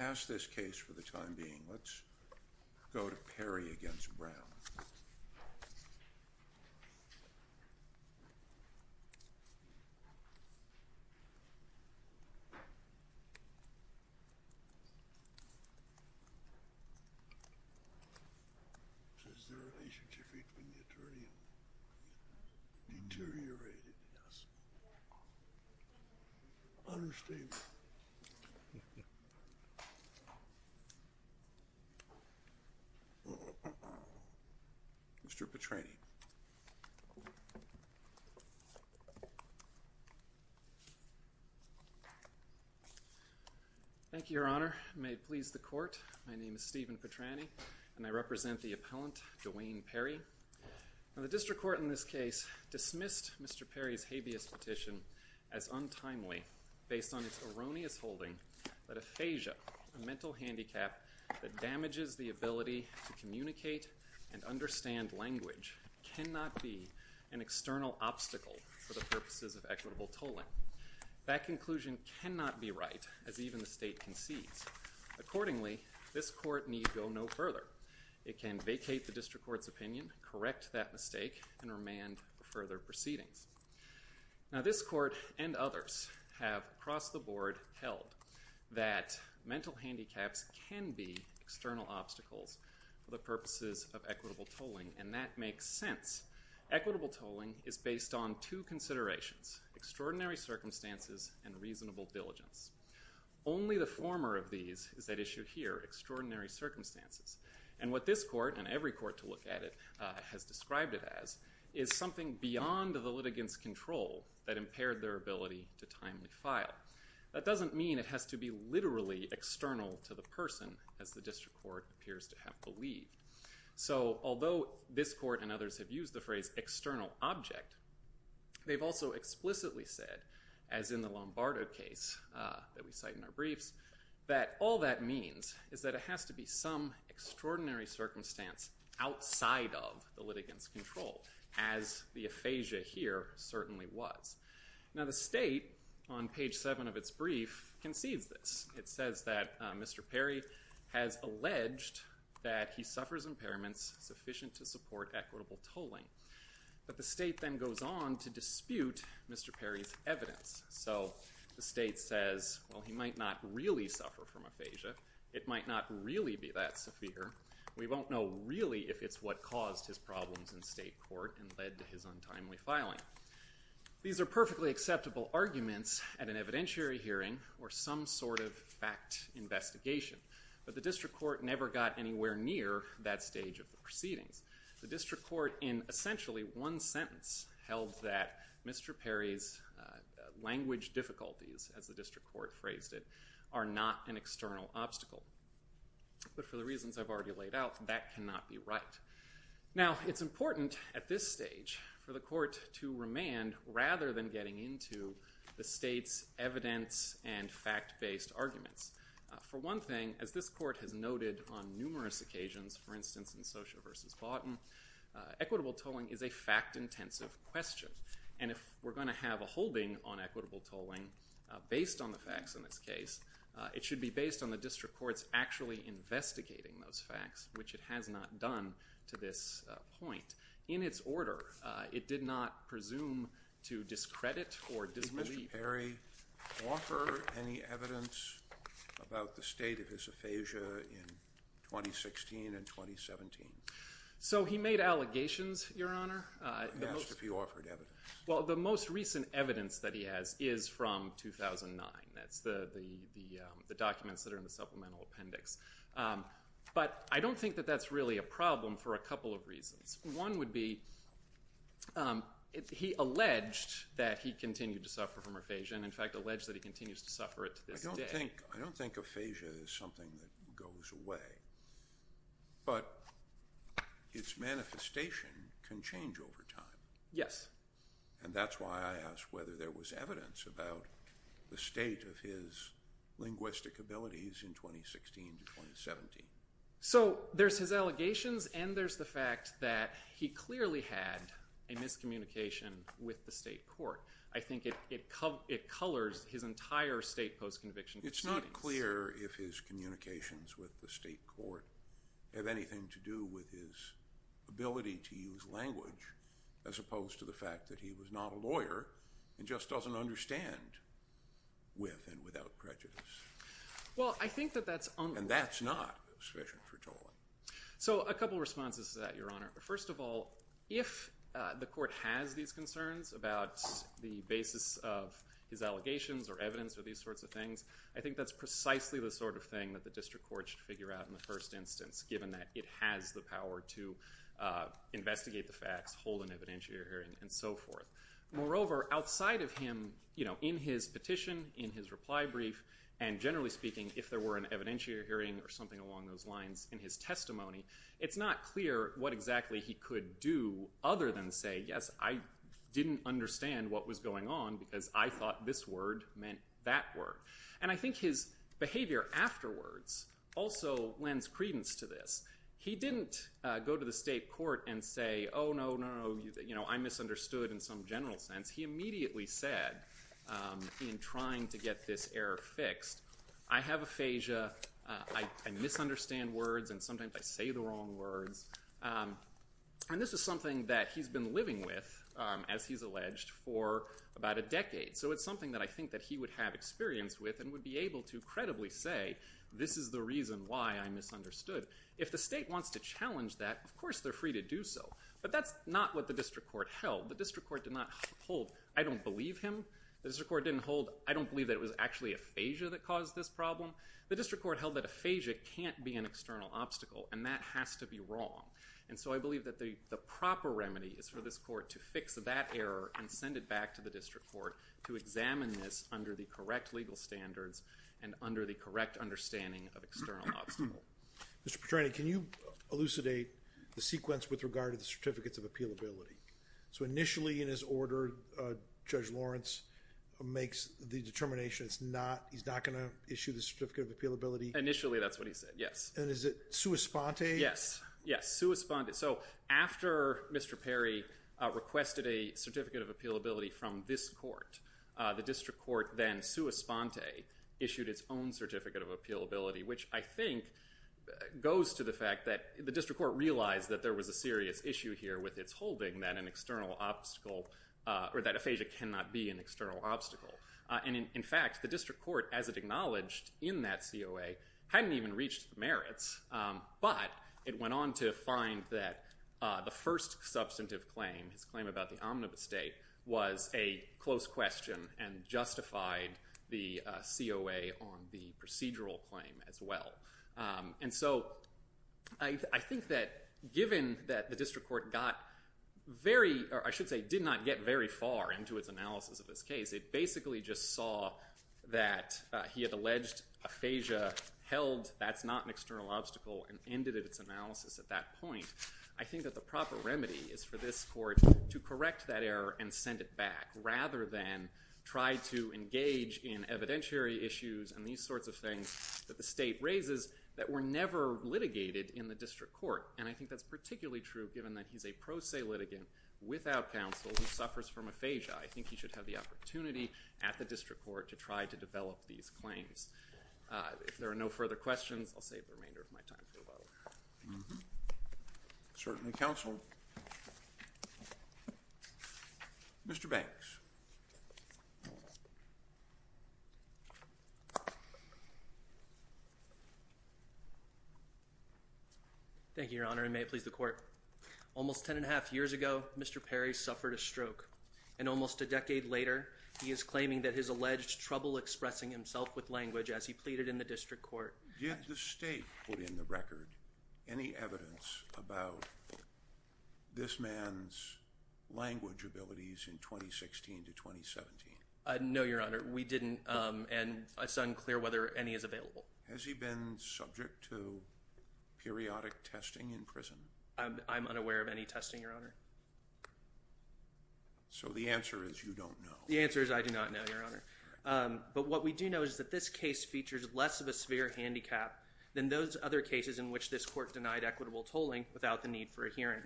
Let's pass this case for the time being. Let's go to Perry v. Brown. Mr. Petrani. Stephen Petrani Thank you, Your Honor. May it please the court, my name is Stephen Petrani and I represent the appellant, DeWayne Perry. Now the district court in this case dismissed Mr. Perry's habeas petition as untimely based on its erroneous holding that aphasia, a mental handicap that damages the ability to communicate and understand language, cannot be an external obstacle for the purposes of equitable tolling. That conclusion cannot be right, as even the state concedes. Accordingly, this court need go no further. It can vacate the district court's opinion, correct that mistake, and remand further proceedings. Now this court and others have, across the board, held that mental handicaps can be external obstacles for the purposes of equitable tolling, and that makes sense. Equitable tolling is based on two considerations, extraordinary circumstances and reasonable diligence. Only the former of these is at issue here, extraordinary circumstances. And what this court, and every other court, has said is that it has to be some extraordinary circumstance outside of the litigants' control that impaired their ability to timely file. That doesn't mean it has to be literally external to the person, as the district court appears to have believed. So, although this court and others have used the phrase external object, they've also explicitly said, as in the Lombardo case that we cite in our briefs, that all that means is that it has to be some extraordinary circumstance outside of the litigants' control, as the aphasia here certainly was. Now the state, on page seven of its brief, concedes this. It says that Mr. Perry has alleged that he suffers impairments sufficient to support equitable tolling. But the state then goes on to dispute Mr. Perry's evidence. So the question is, could Mr. Perry really be that severe? We won't know really if it's what caused his problems in state court and led to his untimely filing. These are perfectly acceptable arguments at an evidentiary hearing or some sort of fact investigation. But the district court never got anywhere near that stage of the proceedings. The district court in essentially one sentence held that Mr. Perry's language difficulties, as the district court phrased it, are not an external obstacle. But for the reasons I've already laid out, that cannot be right. Now it's important at this stage for the court to remand rather than getting into the state's evidence and fact-based arguments. For one thing, as this court has noted on numerous occasions, for instance in Socia v. Baughton, equitable tolling is a fact-intensive question. And if we're going to have a holding on equitable tolling based on the facts in this case, it should be based on the district court's actually investigating those facts, which it has not done to this point. In its order, it did not presume to discredit or disbelieve. Did Mr. Perry offer any evidence about the state of his aphasia in 2016 and 2017? So he made allegations, Your Honor. He asked if he offered evidence. Well, the most recent evidence that he has is from 2009. That's the documents that are in the supplemental appendix. But I don't think that that's really a problem for a couple of reasons. One would be he alleged that he continued to suffer from aphasia, and in fact alleged that he continues to suffer it to this day. I don't think aphasia is something that goes away, but its manifestation can change over time. Yes. And that's why I asked whether there was evidence about the state of his linguistic abilities in 2016 to 2017. So there's his allegations, and there's the fact that he clearly had a miscommunication with the state court. I think it colors his entire state post-conviction proceedings. It's not clear if his communications with the state court have anything to do with his ability to use language, as opposed to the fact that he was not a lawyer and just doesn't understand with and without prejudice. Well, I think that that's un- And that's not sufficient for tolling. So a couple of responses to that, Your Honor. First of all, if the court has these concerns about the basis of his allegations or evidence or these sorts of things, I think that's precisely the sort of thing that the district court should figure out in the first instance, given that it has the power to investigate the facts, hold an evidentiary hearing, and so forth. Moreover, outside of him, in his petition, in his reply brief, and generally speaking, if there were an evidentiary hearing or something along those lines in his testimony, it's not clear what exactly he could do other than say, yes, I didn't understand what was going on because I thought this word meant that word. And I think his behavior afterwards also lends credence to this. He didn't go to the state court and say, oh, no, no, no, I misunderstood in some general sense. He immediately said in trying to get this error fixed, I have aphasia, I misunderstand words, and sometimes I say the wrong words. And this is something that he's been living with, as he's alleged, for about a decade. So it's something that I think that he would have experience with and would be able to credibly say, this is the reason why I misunderstood. If the state wants to challenge that, of course they're free to do so. But that's not what the district court held. The district court did not hold, I don't believe him. The district court didn't hold, I don't believe that it was actually aphasia that caused this problem. The district court held that aphasia can't be an external obstacle, and that has to be wrong. And so I believe that the proper remedy is for this court to fix that error and send it back to the district court to examine this under the correct legal standards and under the correct understanding of external obstacle. Mr. Petrani, can you elucidate the sequence with regard to the Certificates of Appealability? So initially in his order, Judge Lawrence makes the determination he's not going to issue the Certificate of Appealability? Initially that's what he said, yes. And is it sua sponte? Yes, yes, sua sponte. So after Mr. Perry requested a Certificate of Appealability from this court, the district court then sua sponte issued its own Certificate of Appealability, which I think goes to the fact that the district court realized that there was a serious issue here with its holding that an external obstacle, or that aphasia cannot be an external obstacle. And in fact, the district court, as it acknowledged in that COA, hadn't even reached the merits. But it went on to find that the first substantive claim, his claim about the omnibus date, was a close question and justified the COA on the procedural claim as well. And so I think that given that the district court got very, or I should say did not get very far into its analysis of this case, it basically just saw that he had alleged aphasia but held that's not an external obstacle and ended its analysis at that point. I think that the proper remedy is for this court to correct that error and send it back rather than try to engage in evidentiary issues and these sorts of things that the state raises that were never litigated in the district court. And I think that's particularly true given that he's a pro se litigant without counsel who suffers from aphasia. I think he should have the opportunity at the district court to try to develop these claims. If there are no further questions, I'll save the remainder of my time for the bottle. Certainly counseled. Mr. Banks. Thank you, Your Honor, and may it please the court. Almost ten and a half years ago, Mr. Perry suffered a stroke. And almost a decade later, he is claiming that his alleged trouble expressing himself with language as he pleaded in the district court. Did the state put in the record any evidence about this man's language abilities in 2016 to 2017? No, Your Honor. We didn't and it's unclear whether any is available. Has he been subject to periodic testing in prison? I'm unaware of any testing, Your Honor. So the answer is you don't know. The answer is I do not know, Your Honor. But what we do know is that this case features less of a severe handicap than those other cases in which this court denied equitable tolling without the need for a hearing.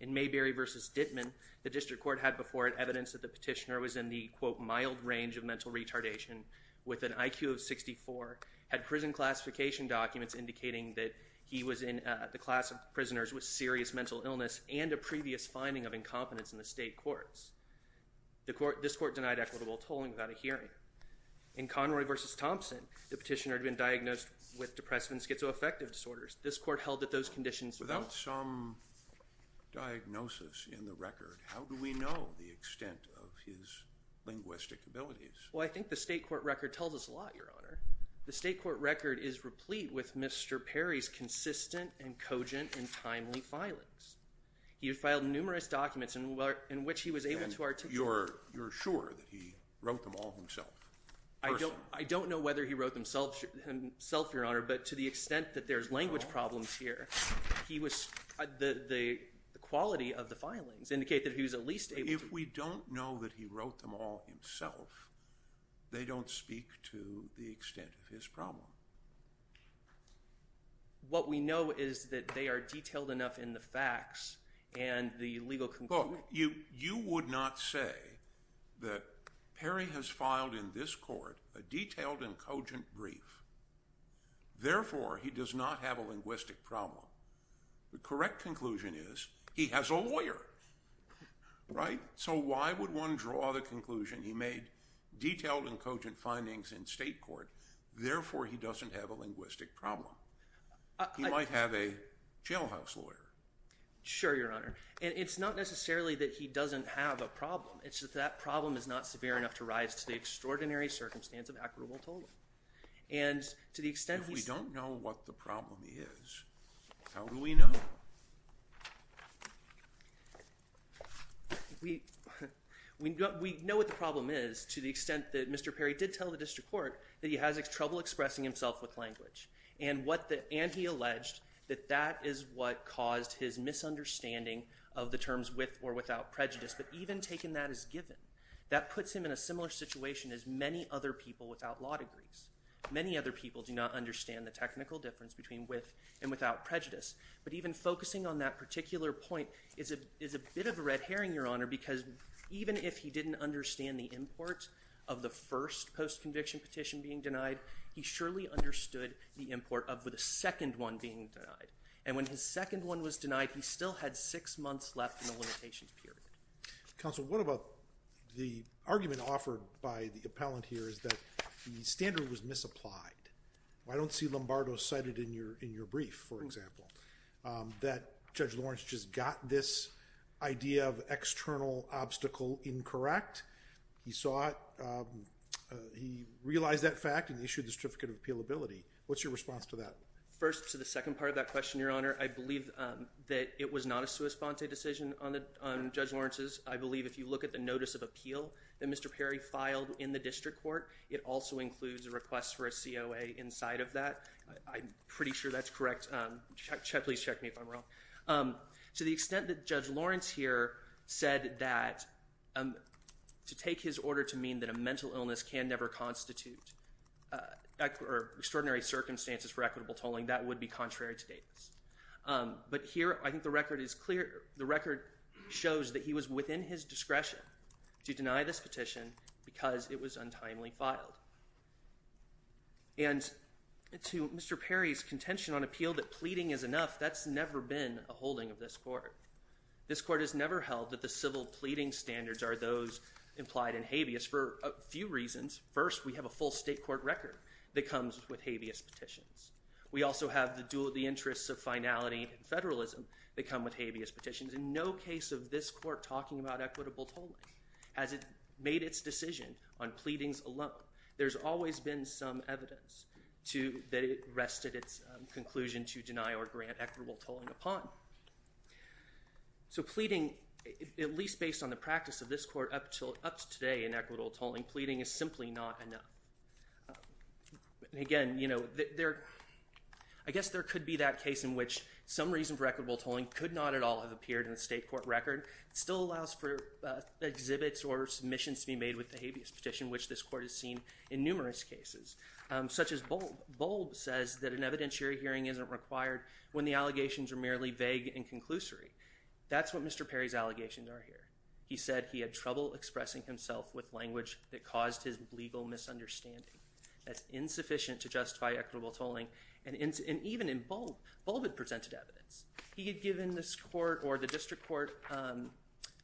In Mayberry v. Dittman, the district court had before it evidence that the petitioner was in the, quote, mild range of mental retardation with an IQ of 64, had prison classification documents indicating that he was in the class of prisoners with serious mental illness and a previous finding of incompetence in the state courts. This court denied equitable tolling without a hearing. In Conroy v. Thompson, the petitioner had been diagnosed with depressive and schizoaffective disorders. This court held that those conditions were not... Without some diagnosis in the record, how do we know the extent of his linguistic abilities? Well, I think the state court record tells us a lot, Your Honor. The state court record is replete with Mr. Perry's consistent and cogent and timely filings. He had filed numerous documents in which he was able to articulate... And you're sure that he wrote them all himself? I don't know whether he wrote them himself, Your Honor, but to the extent that there's language problems here, he was... The quality of the filings indicate that he was at least able to... If we don't know that he wrote them all himself, they don't speak to the extent of his problem. What we know is that they are detailed enough in the facts and the legal conclusion... Look, you would not say that Perry has filed in this court a detailed and cogent brief. Therefore, he does not have a linguistic problem. The correct conclusion is he has a lawyer, right? So why would one draw the conclusion he made detailed and cogent findings in state court? Therefore, he doesn't have a linguistic problem. He might have a jailhouse lawyer. Sure, Your Honor. And it's not necessarily that he doesn't have a problem. It's that that problem is not severe enough to rise to the extraordinary circumstance of acquittal. And to the extent... If we don't know what the problem is, how do we know? We know what the problem is to the extent that Mr. Perry did tell the district court that he has trouble expressing himself with language. And he alleged that that is what caused his misunderstanding of the terms with or without prejudice. But even taking that as given, that puts him in a similar situation as many other people without law degrees. Many other people do not understand the technical difference between with and without prejudice. But even focusing on that particular point is a bit of a red herring, Your Honor, because even if he didn't understand the import of the first post-conviction petition being denied, he surely understood the import of the second one being denied. And when his second one was denied, he still had six months left in the limitations period. Counsel, what about the argument offered by the appellant here is that the standard was misapplied. I don't see Lombardo cited in your brief, for example, that Judge Lawrence just got this idea of external obstacle incorrect. He saw it. He realized that fact and issued the certificate of appealability. What's your response to that? First, to the second part of that question, Your Honor, I believe that it was not a sua sponte decision on Judge Lawrence's. I believe if you look at the notice of appeal that Mr. Perry filed in the district court, it also includes a request for a COA inside of that. I'm pretty sure that's correct. Please check me if I'm wrong. To the extent that Judge Lawrence here said that to take his order to mean that a mental illness can never constitute extraordinary circumstances for equitable tolling, that would be contrary to Davis. But here I think the record is clear. And to Mr. Perry's contention on appeal that pleading is enough, that's never been a holding of this court. This court has never held that the civil pleading standards are those implied in habeas for a few reasons. First, we have a full state court record that comes with habeas petitions. We also have the dual of the interests of finality and federalism that come with habeas petitions. In no case of this court talking about equitable tolling has it made its decision on pleadings alone. There's always been some evidence that it rested its conclusion to deny or grant equitable tolling upon. So pleading, at least based on the practice of this court up to today in equitable tolling, pleading is simply not enough. Again, I guess there could be that case in which some reason for equitable tolling could not at all have appeared in the state court record. It still allows for exhibits or submissions to be made with the habeas petition, which this court has seen in numerous cases, such as Bold. Bold says that an evidentiary hearing isn't required when the allegations are merely vague and conclusory. That's what Mr. Perry's allegations are here. He said he had trouble expressing himself with language that caused his legal misunderstanding. That's insufficient to justify equitable tolling. And even in Bold, Bold had presented evidence. He had given this court or the district court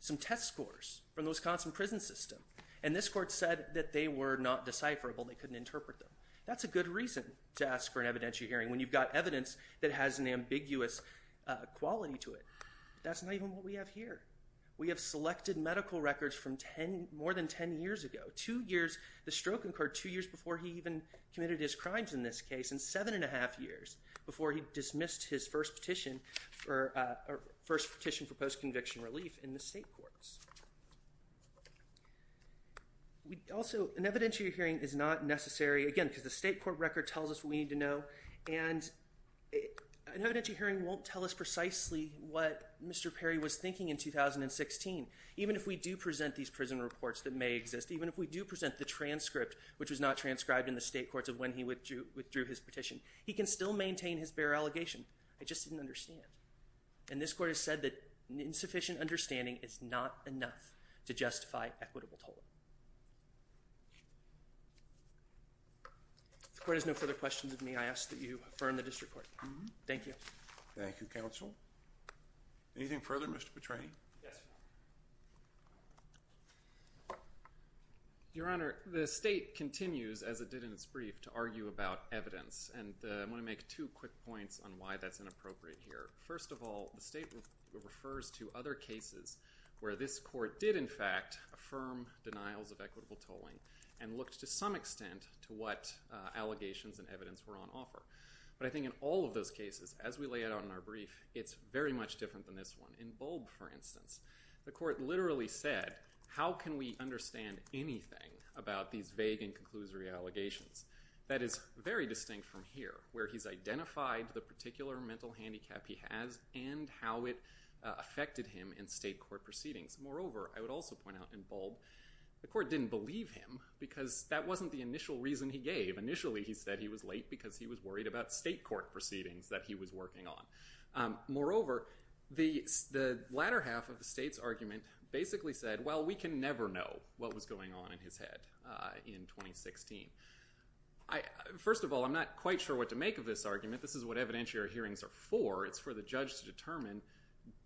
some test scores from the Wisconsin prison system. And this court said that they were not decipherable. They couldn't interpret them. That's a good reason to ask for an evidentiary hearing when you've got evidence that has an ambiguous quality to it. That's not even what we have here. We have selected medical records from more than 10 years ago. Two years, the stroke incurred two years before he even committed his crimes in this case, and seven and a half years before he dismissed his first petition for post-conviction relief in the state courts. Also, an evidentiary hearing is not necessary, again, because the state court record tells us what we need to know. And an evidentiary hearing won't tell us precisely what Mr. Perry was thinking in 2016. Even if we do present these prison reports that may exist, even if we do present the transcript, which was not transcribed in the state courts of when he withdrew his petition, he can still maintain his bare allegation. I just didn't understand. And this court has said that insufficient understanding is not enough to justify equitable tolling. If the court has no further questions of me, I ask that you affirm the district court. Thank you. Thank you, counsel. Anything further, Mr. Petrain? Yes. Your Honor, the state continues, as it did in its brief, to argue about evidence. And I want to make two quick points on why that's inappropriate here. First of all, the statement refers to other cases where this court did, in fact, affirm denials of equitable tolling and looked to some extent to what allegations and evidence were on offer. But I think in all of those cases, as we lay it out in our brief, it's very much different than this one. In Bulb, for instance, the court literally said, how can we understand anything about these vague and conclusory allegations? That is very distinct from here, where he's identified the particular mental handicap he has and how it affected him in state court proceedings. Moreover, I would also point out in Bulb, the court didn't believe him because that wasn't the initial reason he gave. Initially, he said he was late because he was worried about state court proceedings that he was working on. Moreover, the latter half of the state's argument basically said, well, we can never know what was going on in his head in 2016. First of all, I'm not quite sure what to make of this argument. This is what evidentiary hearings are for. It's for the judge to determine,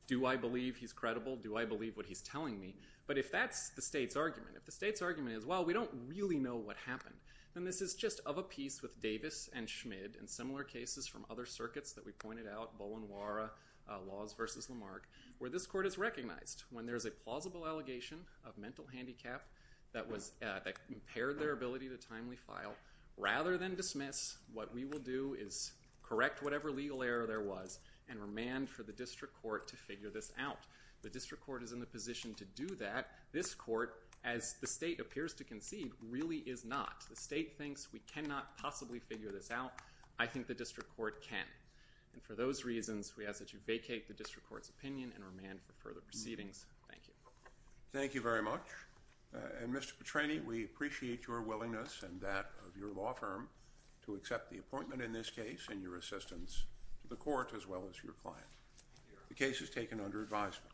do I believe he's credible? Do I believe what he's telling me? But if that's the state's argument, if the state's argument is, well, we don't really know what happened, then this is just of a piece with Davis and Schmid and similar cases from other circuits that we pointed out, Laws v. Lamarck, where this court has recognized when there's a plausible allegation of mental handicap that impaired their ability to timely file, rather than dismiss, what we will do is correct whatever legal error there was and remand for the district court to figure this out. The district court is in the position to do that. This court, as the state appears to concede, really is not. The state thinks we cannot possibly figure this out. I think the district court can. And for those reasons, we ask that you vacate the district court's opinion and remand for further proceedings. Thank you. Thank you very much. And Mr. Petrani, we appreciate your willingness and that of your law firm to accept the appointment in this case and your assistance to the court as well as your client. The case is taken under advisement.